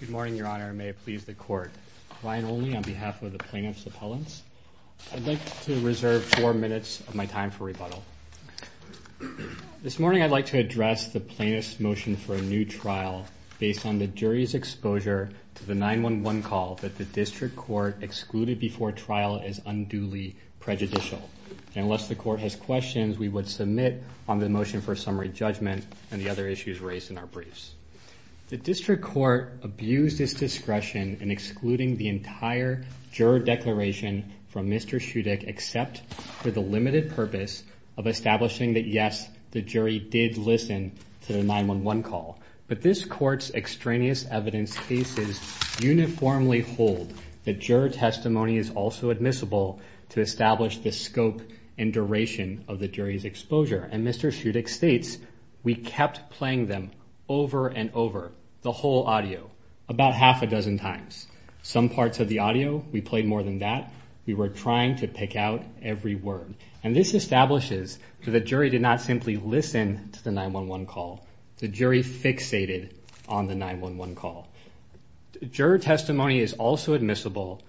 Good morning, Your Honor. May it please the Court. Ryan Olney on behalf of the Plaintiffs' Appellants. I'd like to reserve four minutes of my time for rebuttal. This morning I'd like to address the Plaintiffs' motion for a new trial based on the jury's exposure to the 911 call that the District Court excluded before trial is unduly prejudicial. And unless the Court has questions, we would submit on the motion for summary judgment and the other issues raised in our briefs. The District Court abused its discretion in excluding the entire juror declaration from Mr. Shudik except for the limited purpose of establishing that yes, the jury did listen to the 911 call. But this Court's extraneous evidence cases uniformly hold that juror testimony is also admissible to establish the scope and duration of the jury's exposure. And Mr. Shudik states, we kept playing them over and over, the whole audio, about half a dozen times. Some parts of the audio, we played more than that. We were trying to pick out every word. And this establishes that the jury did not simply listen to the 911 call. The jury fixated on the 911 call. Juror testimony is also admissible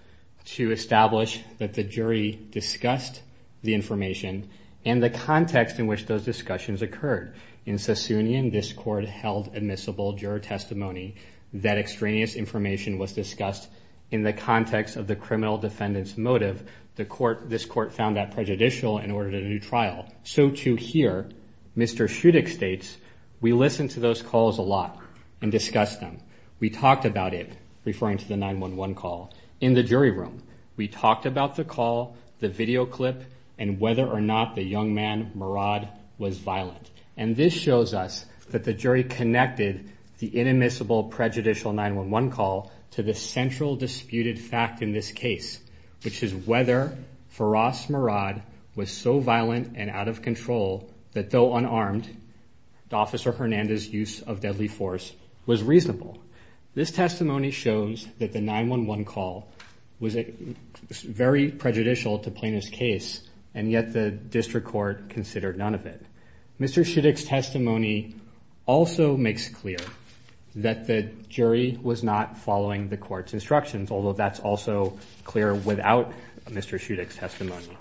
to establish that the jury discussed the information and the context in which those discussions occurred. In Sassoonian, this Court held admissible juror testimony that extraneous information was discussed in the context of the criminal defendant's motive. The Court, this Court found that prejudicial and ordered a new trial. So too here, Mr. Shudik states, we listened to those calls a lot and discussed them. We talked about it, referring to the 911 call, in the jury room. We talked about the call, the video clip, and whether or not the young man, Murad, was violent. And this shows us that the jury connected the inadmissible prejudicial 911 call to the central disputed fact in this case, which is whether Firas Murad was so violent and out of control that though unarmed, Officer Hernandez's use of deadly force was reasonable. This testimony shows that the 911 call was very prejudicial to plaintiff's case, and yet the District Court considered none of it. Mr. Shudik's testimony also makes clear that the jury was not following the Court's instructions, although that's also clear without Mr. Shudik's testimony.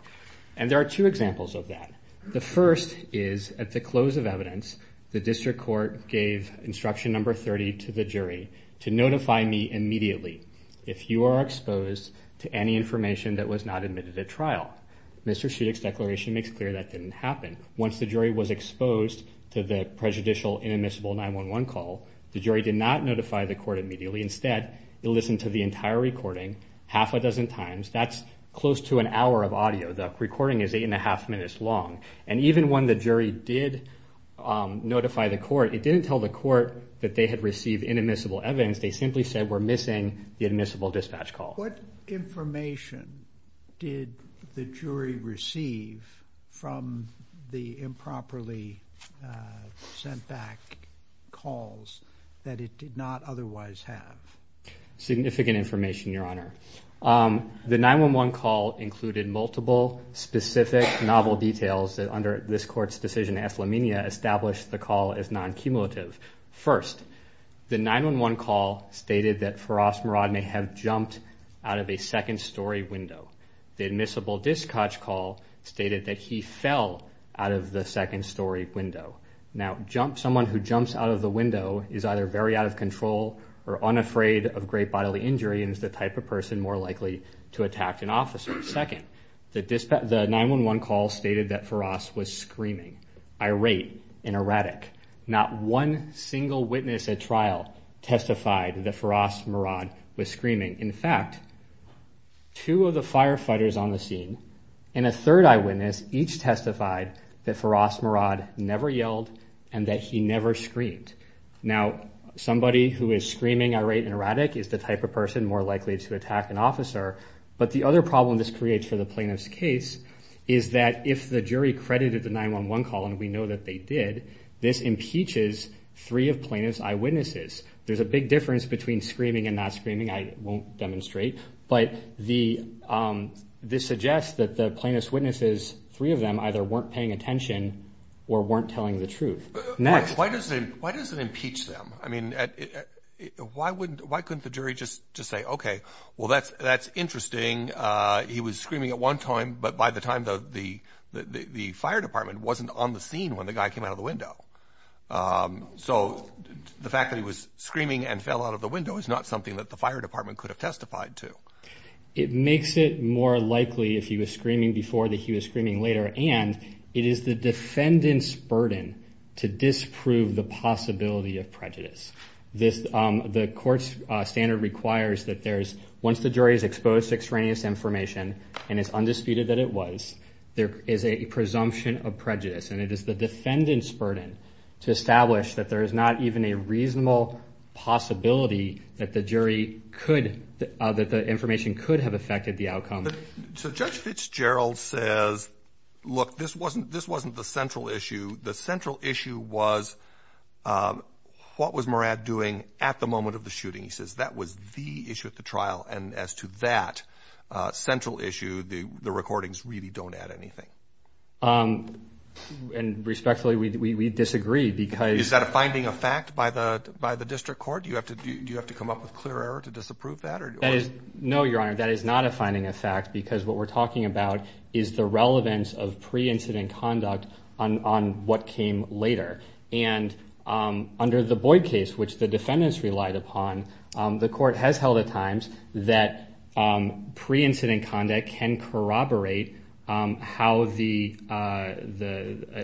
And there are two examples of that. The first is, at the close of evidence, the District Court gave instruction number 30 to the jury to notify me immediately if you are exposed to any information that was not admitted at trial. Mr. Shudik's declaration makes clear that didn't happen. Once the jury was exposed to the prejudicial inadmissible 911 call, the jury did not notify the Court immediately. Instead, it listened to the entire recording half a dozen times. That's close to an hour of audio. The recording is eight and a half minutes long. And even when the jury did notify the Court, it didn't tell the Court that they had received inadmissible evidence. They simply said we're missing the admissible dispatch call. What information did the jury receive from the have? Significant information, Your Honor. The 911 call included multiple specific novel details that under this Court's decision, Athlamenia, established the call as non-cumulative. First, the 911 call stated that Feroz Murad may have jumped out of a second-story window. The admissible dispatch call stated that he fell out of the second-story window. Now, someone who jumps out of the window is either very out of control or unafraid of great bodily injury and is the type of person more likely to attack an officer. Second, the 911 call stated that Feroz was screaming, irate, and erratic. Not one single witness at trial testified that Feroz Murad was screaming. In fact, two of the firefighters on the scene and a third eyewitness each testified that Feroz Murad never yelled and that he never screamed. Now, somebody who is screaming, irate, and erratic is the type of person more likely to attack an officer. But the other problem this creates for the plaintiff's case is that if the jury credited the 911 call, and we know that they did, this impeaches three of plaintiff's eyewitnesses. There's a big difference between screaming and not screaming. I won't demonstrate, but this suggests that the plaintiff's witnesses, three of them, either weren't paying attention or weren't telling the truth. Next. Why does it impeach them? I mean, why couldn't the jury just say, okay, well, that's interesting. He was screaming at one time, but by the time the fire department wasn't on the scene when the guy came out of the window. So the fact that he was screaming and fell out of the window is not something that the fire department could have testified to. It makes it more likely if he was screaming before that he was screaming later. And it is the defendant's burden to disprove the possibility of prejudice. The court's standard requires that once the jury is exposed to extraneous information, and it's undisputed that it was, there is a presumption of prejudice. And it is the defendant's burden to establish that there is not even a reasonable possibility that the information could have affected the outcome. So Judge Fitzgerald says, look, this wasn't the central issue. The central issue was what was Murad doing at the moment of the shooting? He says that was the issue at the trial. And as to that central issue, the recordings really don't add anything. And respectfully, we disagree because... Is that a finding of fact by the district court? Do you have to come up with clear error to disapprove that? No, Your Honor. That is not a finding of fact because what we're talking about is the relevance of pre-incident conduct on what came later. And under the Boyd case, which the defendants relied upon, the court has held at times that pre-incident conduct can corroborate how an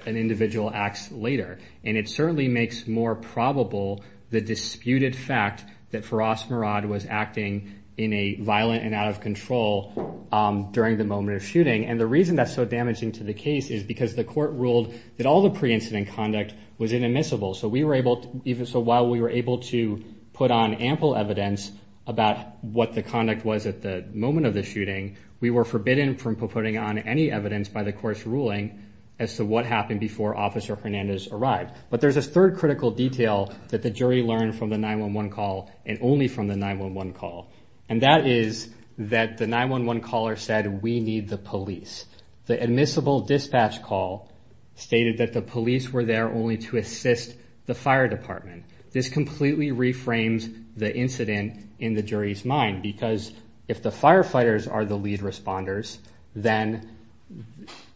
individual acts later. And it certainly makes more probable the disputed fact that Firas Murad was acting in a violent and out of control during the moment of shooting. And the reason that's so damaging to the case is because the court ruled that all the pre-incident conduct was inadmissible. So while we were able to put on ample evidence about what the conduct was at the moment of the shooting, we were forbidden from putting on any evidence by the court's ruling as to what happened before Officer Hernandez arrived. But there's a third critical detail that the jury learned from the 911 call and only from the 911 call. And that is that the 911 caller said, we need the police. The admissible dispatch call stated that the police were there only to assist the fire department. This completely reframes the incident in the jury's mind because if the firefighters are the lead responders, then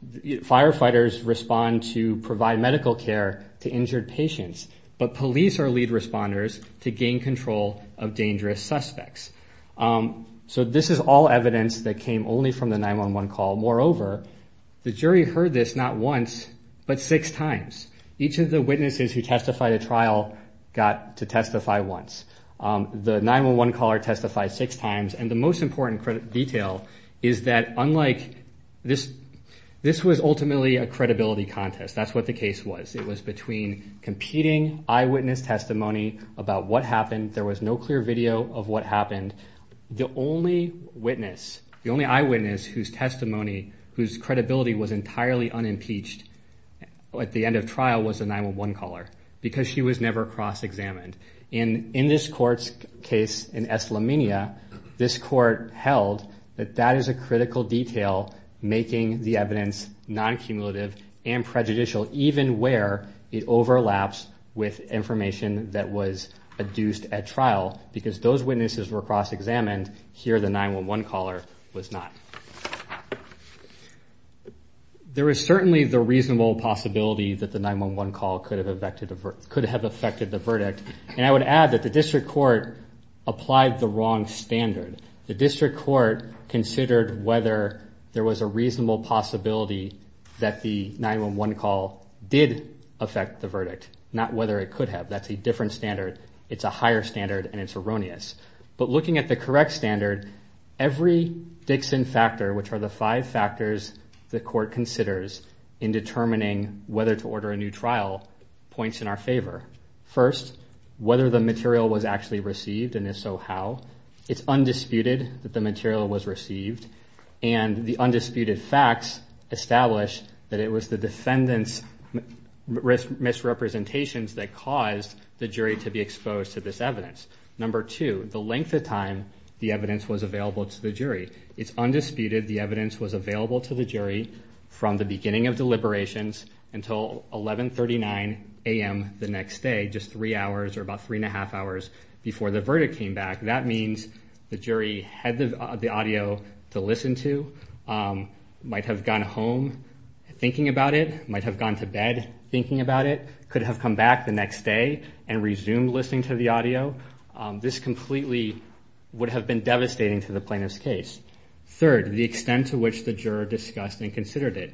firefighters respond to provide medical care to injured patients. But police are lead responders to gain control of dangerous suspects. So this is all evidence that came only from the 911 call. Moreover, the jury heard this not once, but six times. Each of the witnesses who testified at trial got to testify once. The 911 caller testified six times. And the most important detail is that unlike this, this was ultimately a credibility contest. That's what the case was. It was between competing eyewitness testimony about what happened. There was no clear video of what happened. The only witness, the only eyewitness whose testimony, whose credibility was entirely unimpeached at the end of trial was a 911 caller because she was never cross-examined. And in this court's case in Eslamenia, this court held that that is a critical detail making the evidence non-cumulative and prejudicial, even where it overlaps with information that was adduced at trial because those witnesses were cross-examined. Here, the 911 caller was not. There is certainly the reasonable possibility that the 911 call could have affected the verdict. And I would add that the district court applied the wrong standard. The district court considered whether there was a reasonable possibility that the 911 call did affect the verdict, not whether it could have. That's a different standard. It's a higher standard and it's erroneous. But looking at the correct standard, every Dixon factor, which are the five factors the court considers in determining whether to order a new trial, points in our favor. First, whether the material was actually received and if so, how. It's undisputed that the material was received and the undisputed facts establish that it was the defendant's misrepresentations that caused the jury to be exposed to this evidence. Number two, the length of time the evidence was available to the jury. It's undisputed the evidence was available to the jury from the beginning of deliberations until 1139 a.m. the next day, just three hours or about three and a half hours before the verdict came back. That means the jury had the audio to listen to, might have gone home thinking about it, might have gone to bed thinking about it, could have come back the next day and resumed listening to the audio. This completely would have been devastating to the plaintiff's case. Third, the extent to which the juror discussed and considered it.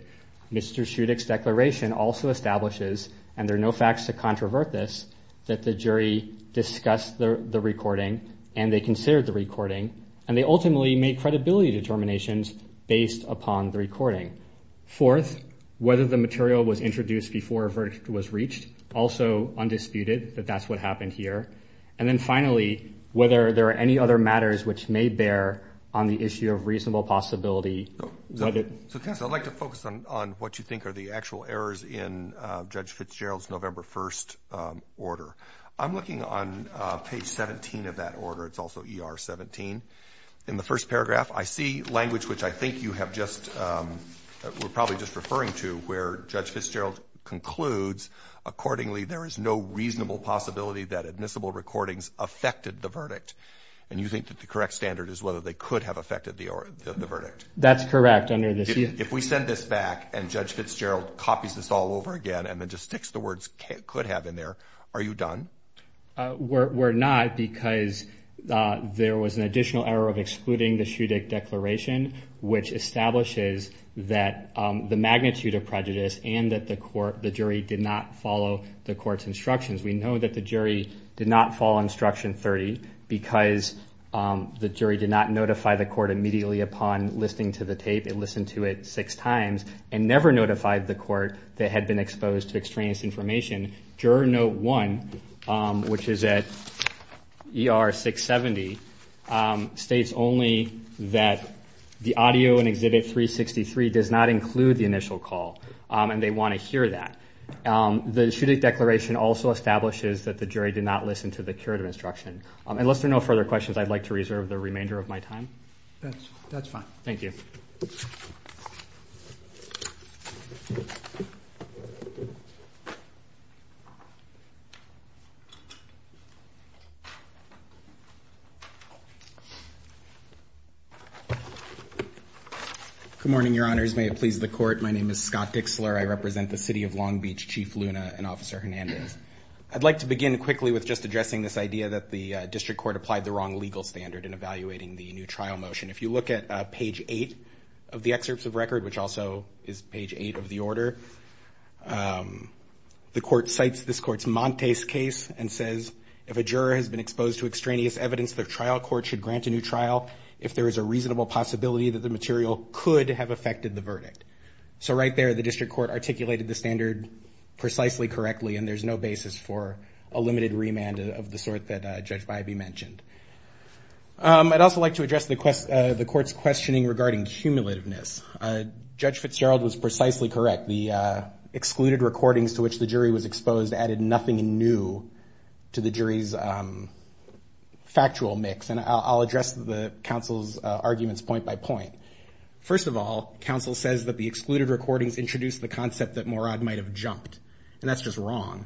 Mr. Schutick's declaration also establishes, and there are no facts to controvert this, that the jury discussed the recording and they considered the recording and they ultimately made credibility determinations based upon the recording. Fourth, whether the material was introduced before a verdict was reached, also undisputed that that's what happened here. And then finally, whether there are any other matters which may bear on the issue of reasonable possibility. I'd like to focus on what you think are the actual errors in Judge Fitzgerald's November 1st order. I'm looking on page 17 of that order. It's also ER 17. In the first paragraph, I see language which I think you have just, we're probably just referring to where Judge Fitzgerald concludes accordingly, there is no reasonable possibility that admissible recordings affected the verdict. And you think that the correct standard is whether they could have affected the verdict. That's correct. If we send this back and Judge Fitzgerald copies this all over again and then just sticks the words could have in there, are you done? We're not because there was an additional error of excluding the Schutick declaration, which establishes that the magnitude of prejudice and that the court, the jury did not follow the court's instructions. We know that the jury did not follow instruction 30 because the jury did not notify the court immediately upon listening to the tape. It listened to it six times and never notified the court that had been exposed to extraneous information. Juror note one, which is at ER 670, states only that the audio in exhibit 363 does not include the initial call and they want to hear that. The Schutick declaration also establishes that the jury did not listen to the curative instruction. Unless there are no further questions, I'd like to reserve the remainder of my time. That's fine. Thank you. Good morning, your honors. May it please the court. My name is Scott Dixler. I represent the city of Long Beach, Chief Luna and Officer Hernandez. I'd like to begin quickly with just addressing this idea that the district court applied the wrong legal standard in evaluating the new trial motion. If you look at page eight of the excerpts of record, which also is page eight of the order, the court cites this court's Montes case and says, if a juror has been exposed to extraneous evidence, their trial court should grant a new trial if there is a reasonable possibility that the material could have affected the verdict. So right there, the district court articulated the standard precisely correctly and there's no basis for a limited remand of the sort that Judge Bybee mentioned. I'd also like to address the court's questioning regarding cumulativeness. Judge Fitzgerald was precisely correct. The excluded recordings to which the jury was exposed added nothing new to the jury's factual mix. And I'll address the counsel's arguments point by point. First of all, counsel says that the excluded recordings introduced the concept that Morad might have jumped. And that's just wrong.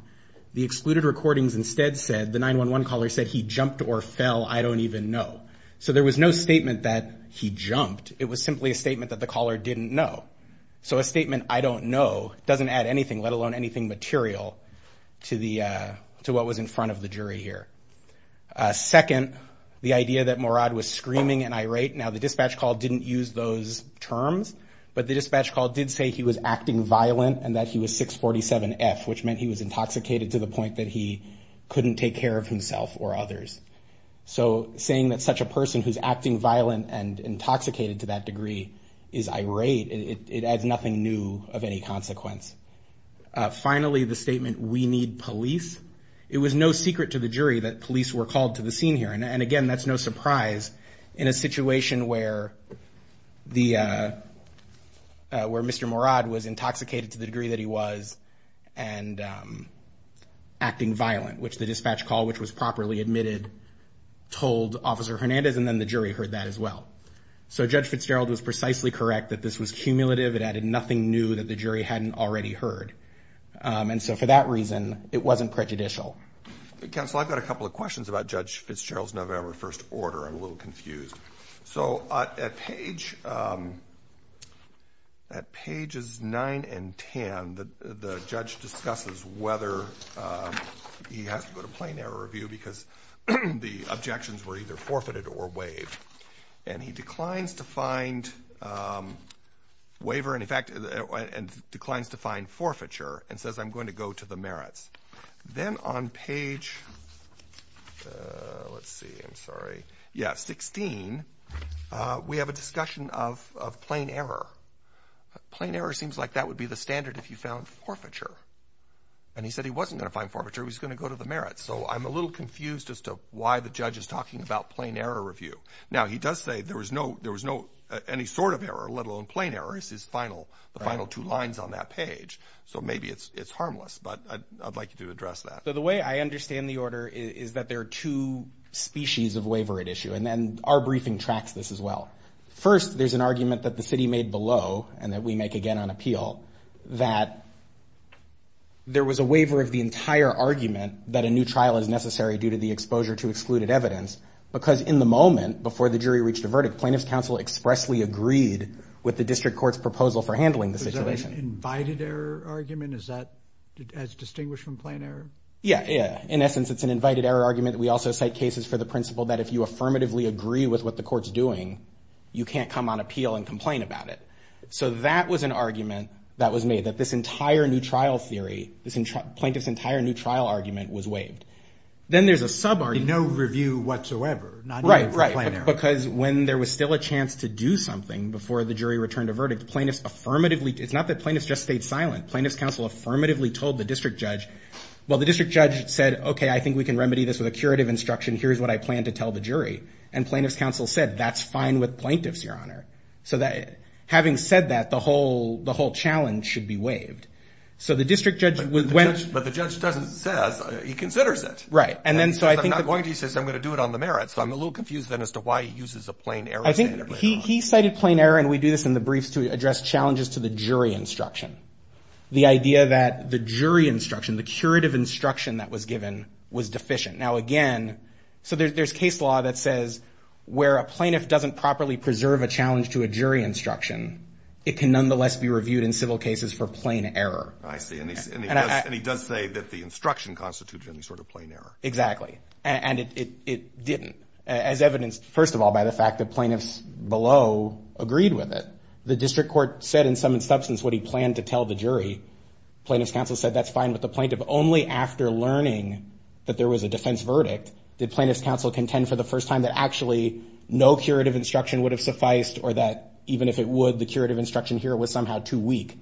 The excluded recordings instead said, the 911 caller said, he jumped or fell, I don't even know. So there was no statement that he jumped. It was simply a statement that the caller didn't know. So a statement, I don't know, doesn't add anything, let alone anything material to what was in front of the jury here. Second, the idea that Morad was screaming and irate. Now the dispatch call didn't use those terms, but the dispatch call did say he was acting violent and that he was 647F, which meant he was intoxicated to the point that he couldn't take care of himself or others. So saying that such a person who's acting violent and intoxicated to that degree is irate, it adds nothing new of any consequence. Finally, the statement, we need police. It was no secret to the jury that police were called to the scene here. And again, that's no surprise in a situation where Mr. Morad was intoxicated to the degree that he was and acting violent, which the dispatch call, which was properly admitted, told Officer Hernandez and then the jury heard that as well. So Judge Fitzgerald was precisely correct that this was cumulative. It added nothing new that the jury hadn't already heard. And so for that reason, it wasn't prejudicial. Counsel, I've got a couple of questions about Judge Fitzgerald's November 1st order. I'm a little confused. So at pages 9 and 10, the judge discusses whether he has to go to plain error review because the objections were either forfeited or waived. And he declines to find waiver, and in fact, declines to find forfeiture and says, I'm going to go to the merits. Then on page, let's see, I'm sorry. Yeah, 16, we have a discussion of plain error. Plain error seems like that would be the standard if you found forfeiture. And he said he wasn't going to find forfeiture. He was going to go to the merits. So I'm a little confused as to why the judge is talking about plain error review. Now, he does say there was no, there was no, any sort of error, let alone plain error is his final, the final two lines on that page. So maybe it's, it's harmless, but I'd like you to address that. So the way I understand the order is that there are two species of waiver at issue. And then our briefing tracks this as well. First, there's an argument that the city made below, and that we make again on appeal, that there was a waiver of the entire argument that a new trial is necessary due to the exposure to excluded evidence. Because in the moment before the jury reached a verdict, plaintiff's counsel expressly agreed with the district court's proposal for argument. Is that as distinguished from plain error? Yeah, yeah. In essence, it's an invited error argument. We also cite cases for the principle that if you affirmatively agree with what the court's doing, you can't come on appeal and complain about it. So that was an argument that was made, that this entire new trial theory, this plaintiff's entire new trial argument was waived. Then there's a sub-argument. No review whatsoever. Right, right. Because when there was still a chance to do something before the jury returned a verdict, plaintiff's affirmatively, it's not that plaintiff's just stayed silent. Plaintiff's counsel affirmatively told the district judge, well, the district judge said, okay, I think we can remedy this with a curative instruction. Here's what I plan to tell the jury. And plaintiff's counsel said, that's fine with plaintiffs, your honor. So having said that, the whole challenge should be waived. So the district judge went- But the judge doesn't say, he considers it. Right. And then so I think- I'm not going to, he says, I'm going to do it on the merit. So I'm a little confused then as to why he uses a plain error standard later on. He cited plain error, and we do this in the briefs to address challenges to the jury instruction. The idea that the jury instruction, the curative instruction that was given was deficient. Now again, so there's case law that says where a plaintiff doesn't properly preserve a challenge to a jury instruction, it can nonetheless be reviewed in civil cases for plain error. I see. And he does say that the instruction constituted any sort of plain error. Exactly. And it didn't. As evidenced, first of all, by the fact that plaintiffs below agreed with it. The district court said in some substance what he planned to tell the jury. Plaintiff's counsel said, that's fine with the plaintiff. Only after learning that there was a defense verdict, did plaintiff's counsel contend for the first time that actually no curative instruction would have sufficed, or that even if it would, the curative instruction here was somehow too weak.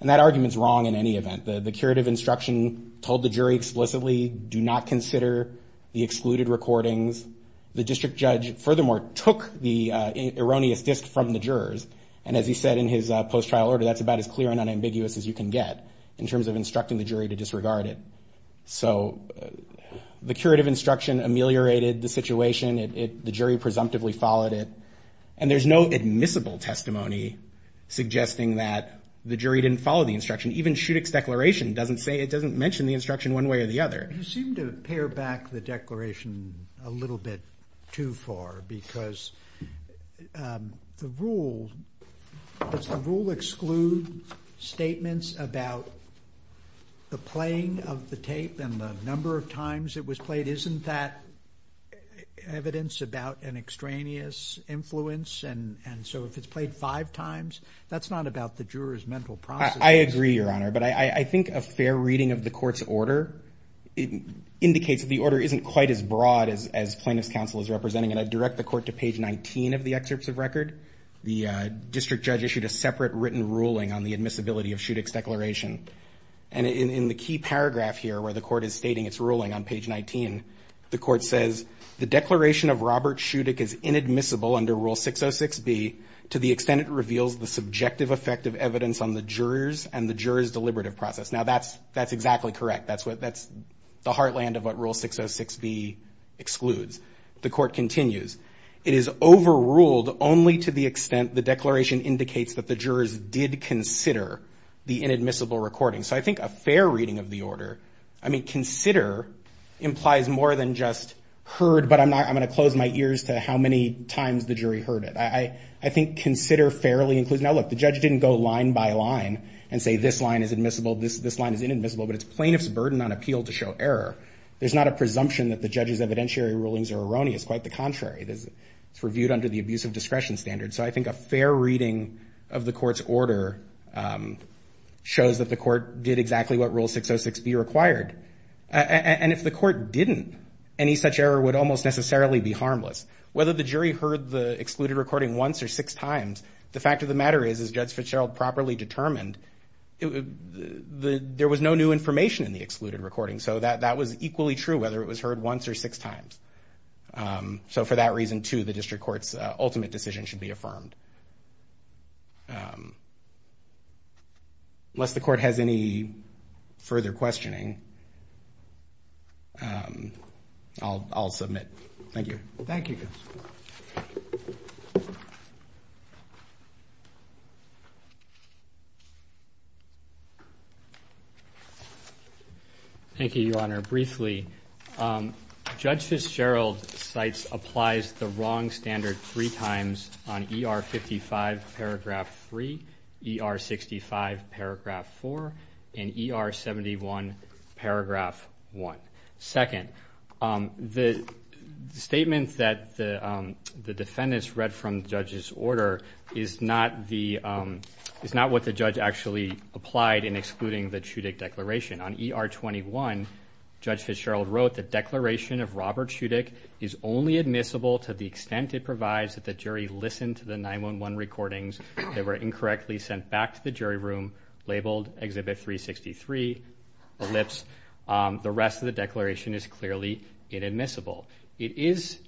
And that argument's wrong in any event. The curative instruction told the jury explicitly, do not consider the excluded recordings. The district judge, furthermore, took the erroneous disc from the jurors. And as he said in his post-trial order, that's about as clear and unambiguous as you can get in terms of instructing the jury to disregard it. So the curative instruction ameliorated the situation. The jury presumptively followed it. And there's no admissible testimony suggesting that the jury didn't follow the instruction. Even Schutick's declaration doesn't say, it doesn't mention the instruction one way or the other. You seem to pare back the declaration a little bit too far, because the rule, does the rule exclude statements about the playing of the tape and the number of times it was played? Isn't that evidence about an extraneous influence? And so if it's played five times, that's not about the juror's mental process. I agree, Your Honor. But I think a fair reading of the court's order indicates that the order isn't quite as broad as plaintiff's counsel is representing. And I direct the court to page 19 of the excerpts of record. The district judge issued a separate written ruling on the admissibility of Schutick's declaration. And in the key paragraph here, where the court is stating its ruling on page 19, the court says, the declaration of Robert Schutick is inadmissible under rule 606b to the extent it reveals the subjective effect of evidence on the jurors and the jurors' deliberative process. Now that's exactly correct. That's the heartland of what rule 606b excludes. The court continues, it is overruled only to the extent the declaration indicates that the jurors did consider the inadmissible recording. So I think a fair reading of the order, I mean, consider implies more than just heard, but I'm not, I'm going to close my ears to how many times the jury heard it. I think consider fairly includes, now look, the judge didn't go line by line and say this line is admissible, this line is inadmissible, but it's plaintiff's burden on appeal to show error. There's not a presumption that the judge's evidentiary rulings are erroneous. Quite the contrary. It's reviewed under the abuse of discretion standard. So I think a fair reading of the court's order shows that the court did exactly what rule 606b required. And if the court didn't, any such error would almost necessarily be harmless. Whether the jury heard the excluded recording once or six times, the fact of the matter is, as Judge Fitzgerald properly determined, there was no new information in the excluded recording. So that was equally true whether it was heard once or six times. So for that reason, too, the district court's ultimate decision should be affirmed. Unless the court has any further questioning, I'll submit. Thank you. Thank you, Your Honor. Briefly, Judge Fitzgerald cites applies the wrong standard three times on ER 55 paragraph 3, ER 65 paragraph 4, and ER 71 paragraph 1. Second, the statement that the defendants read from the judge's order is not what the judge actually applied in excluding the Chudik declaration. On ER 21, Judge Fitzgerald wrote the declaration of Robert Chudik is only admissible to the extent it provides that the jury listened to the 911 recordings that were incorrectly sent back to the jury room labeled Exhibit 363, ellipse. The rest of the declaration is clearly inadmissible. It is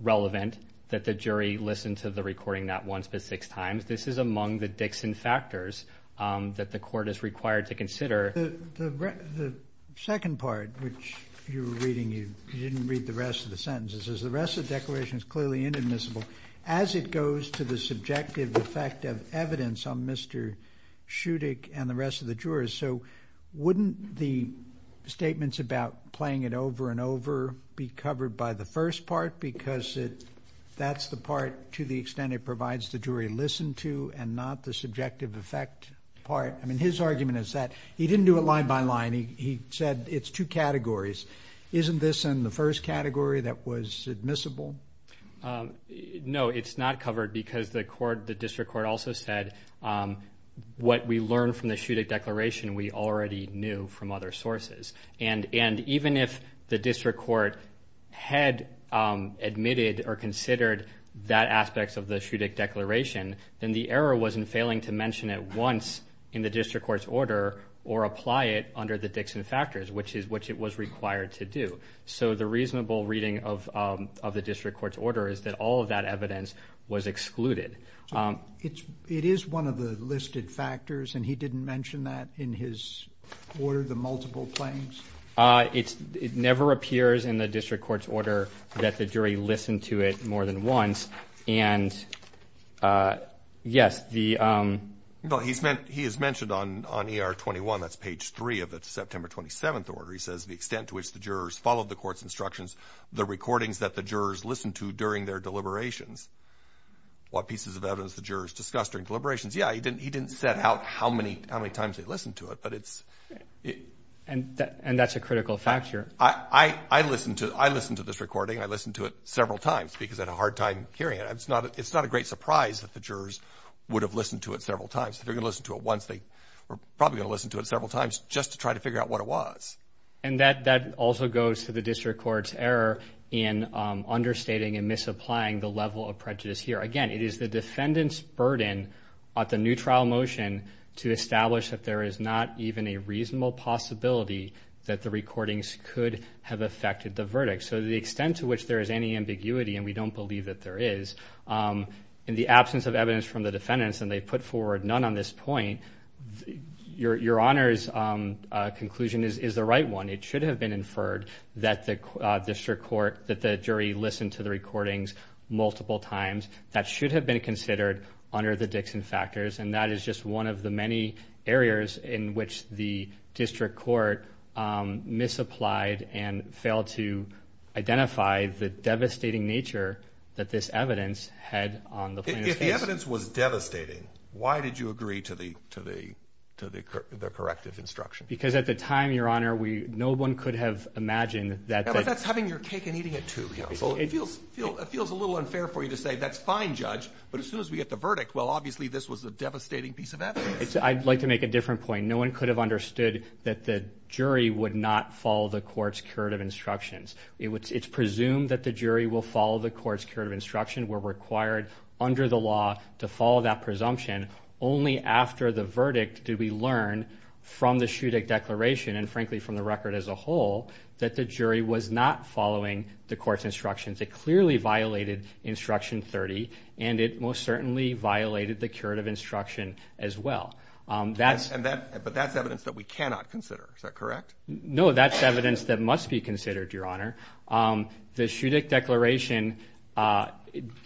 relevant that the jury listened to the recording not once but six times. This is among the Dixon factors that the court is required to consider. The second part, which you were reading, you didn't read the rest of the sentences, is the rest of the declaration is clearly inadmissible as it goes to the subjective effect of evidence on Mr. Chudik and the rest of the jurors. So wouldn't the statements about playing it over and over be covered by the first part? Because that's the part to the extent it provides the jury listened to and not the subjective effect part. I mean his argument is that he didn't do it line by line. He said it's two categories. Isn't this in the first category that was admissible? No, it's not covered because the court, the district court, also said what we learned from the Chudik declaration we already knew from other sources. And even if the district court had admitted or considered that aspects of the Chudik declaration, then the error wasn't failing to mention it once in the district court's order or apply it under the Dixon factors, which it was required to do. So the reasonable reading of the district court's order is that all of that evidence was excluded. It is one of the listed factors and he didn't mention that in his order, the multiple claims? It never appears in the district court's order that the jury listened to it more than once. And yes, the... He has mentioned on ER 21, that's page three of the September 27th order, he says, the extent to which the jurors followed the court's instructions, the recordings that the jurors listened to during their deliberations. What pieces of evidence the jurors discussed during deliberations. Yeah, he didn't set out how many times they listened to it, but it's... And that's a critical factor. I listened to this recording. I listened to it several times because I had a hard time hearing it. It's not a great surprise that the jurors would have listened to it several times. If they're going to listen to it once, they were probably going to listen to it several times just to try to figure out what it was. And that also goes to the district court's error in understating and misapplying the level of prejudice here. Again, it is the defendant's burden at the new trial motion to establish that there is not even a reasonable possibility that the recordings could have affected the verdict. So the extent to which there is any ambiguity, and we don't believe that there is, in the absence of evidence from the defendants, and they put forward none on this point, your Honor's conclusion is the right one. It should have been inferred that the jury listened to the recordings multiple times. That should have been considered under the Dixon factors. And that is just one of the many areas in which the district court misapplied and failed to identify the devastating nature that this evidence had on the plaintiff's case. If the evidence was devastating, why did you agree to the corrective instruction? Because at the time, your Honor, no one could have imagined that... Yeah, but that's having your cake and eating it, too, counsel. It feels a little unfair for you to say, that's fine, judge, but as soon as we get the verdict, well, obviously this was a devastating piece of evidence. I'd like to make a different point. No one could have understood that the jury would not follow the court's curative instructions. It's presumed that the jury will follow the court's curative instruction. We're required under the law to follow that presumption. Only after the verdict did we learn from the Shuddeck Declaration, and frankly from the record as a whole, that the jury was not following the court's instructions. It clearly violated instruction 30, and it most certainly violated the curative instruction as well. But that's evidence that we cannot consider. Is that correct? No, that's evidence that must be considered, your Honor. The Shuddeck Declaration,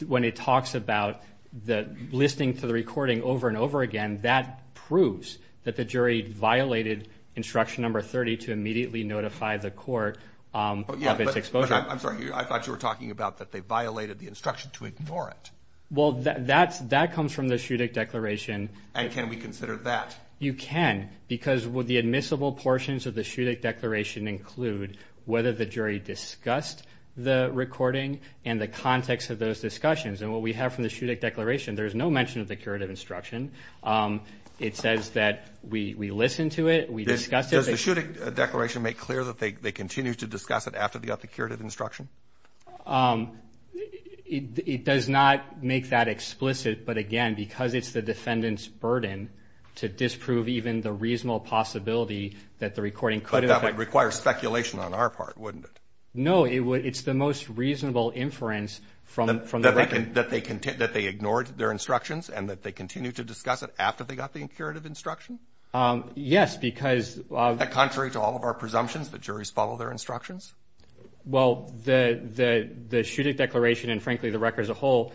when it talks about the listing to the recording over and over again, that proves that the jury violated instruction number 30 to immediately notify the court of its exposure. I'm sorry, I thought you were talking about that they violated the instruction to ignore it. Well, that comes from the Shuddeck Declaration. And can we consider that? You can, because the admissible portions of the Shuddeck Declaration include whether the jury discussed the recording and the context of those discussions. And what we have from the Shuddeck Declaration, there's no mention of the curative instruction. It says that we listened to it, we discussed it. Does the Shuddeck Declaration make clear that they continue to discuss it after they got the curative instruction? It does not make that explicit, but again, because it's the defendant's burden to disprove even the reasonable possibility that the recording could have been... That would require speculation on our part, wouldn't it? No, it's the most reasonable inference from the record. That they ignored their instructions and that they continued to discuss it after they got the curative instruction? Yes, because... Contrary to all of our presumptions, the juries follow their instructions? Well, the Shuddeck Declaration and frankly the record as a whole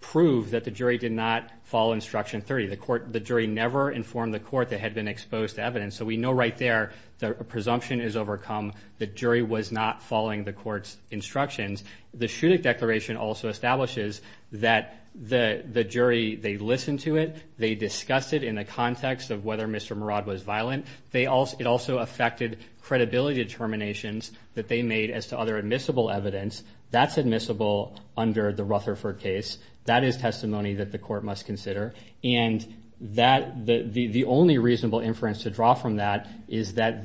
proved that the jury did not follow instruction 30. The jury never informed the court that had been exposed to evidence. So we know right there that a presumption is overcome. The jury was not following the court's instructions. The Shuddeck Declaration also establishes that the jury, they listened to it, they discussed it in the context of whether Mr. Murad was violent. It also affected credibility determinations that they made as to other admissible evidence. That's admissible under the Rutherford case. That is testimony that the court must consider. And the only reasonable inference to draw from that is that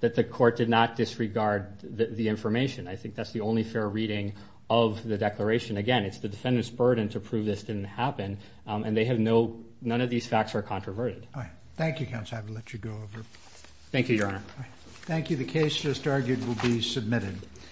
the court did not disregard the information. I think that's the only fair reading of the declaration. Again, it's the defendant's burden to prove this didn't happen and none of these facts are controverted. All right. Thank you, counsel. I will let you go over. Thank you, Your Honor. Thank you. The case just argued will be submitted.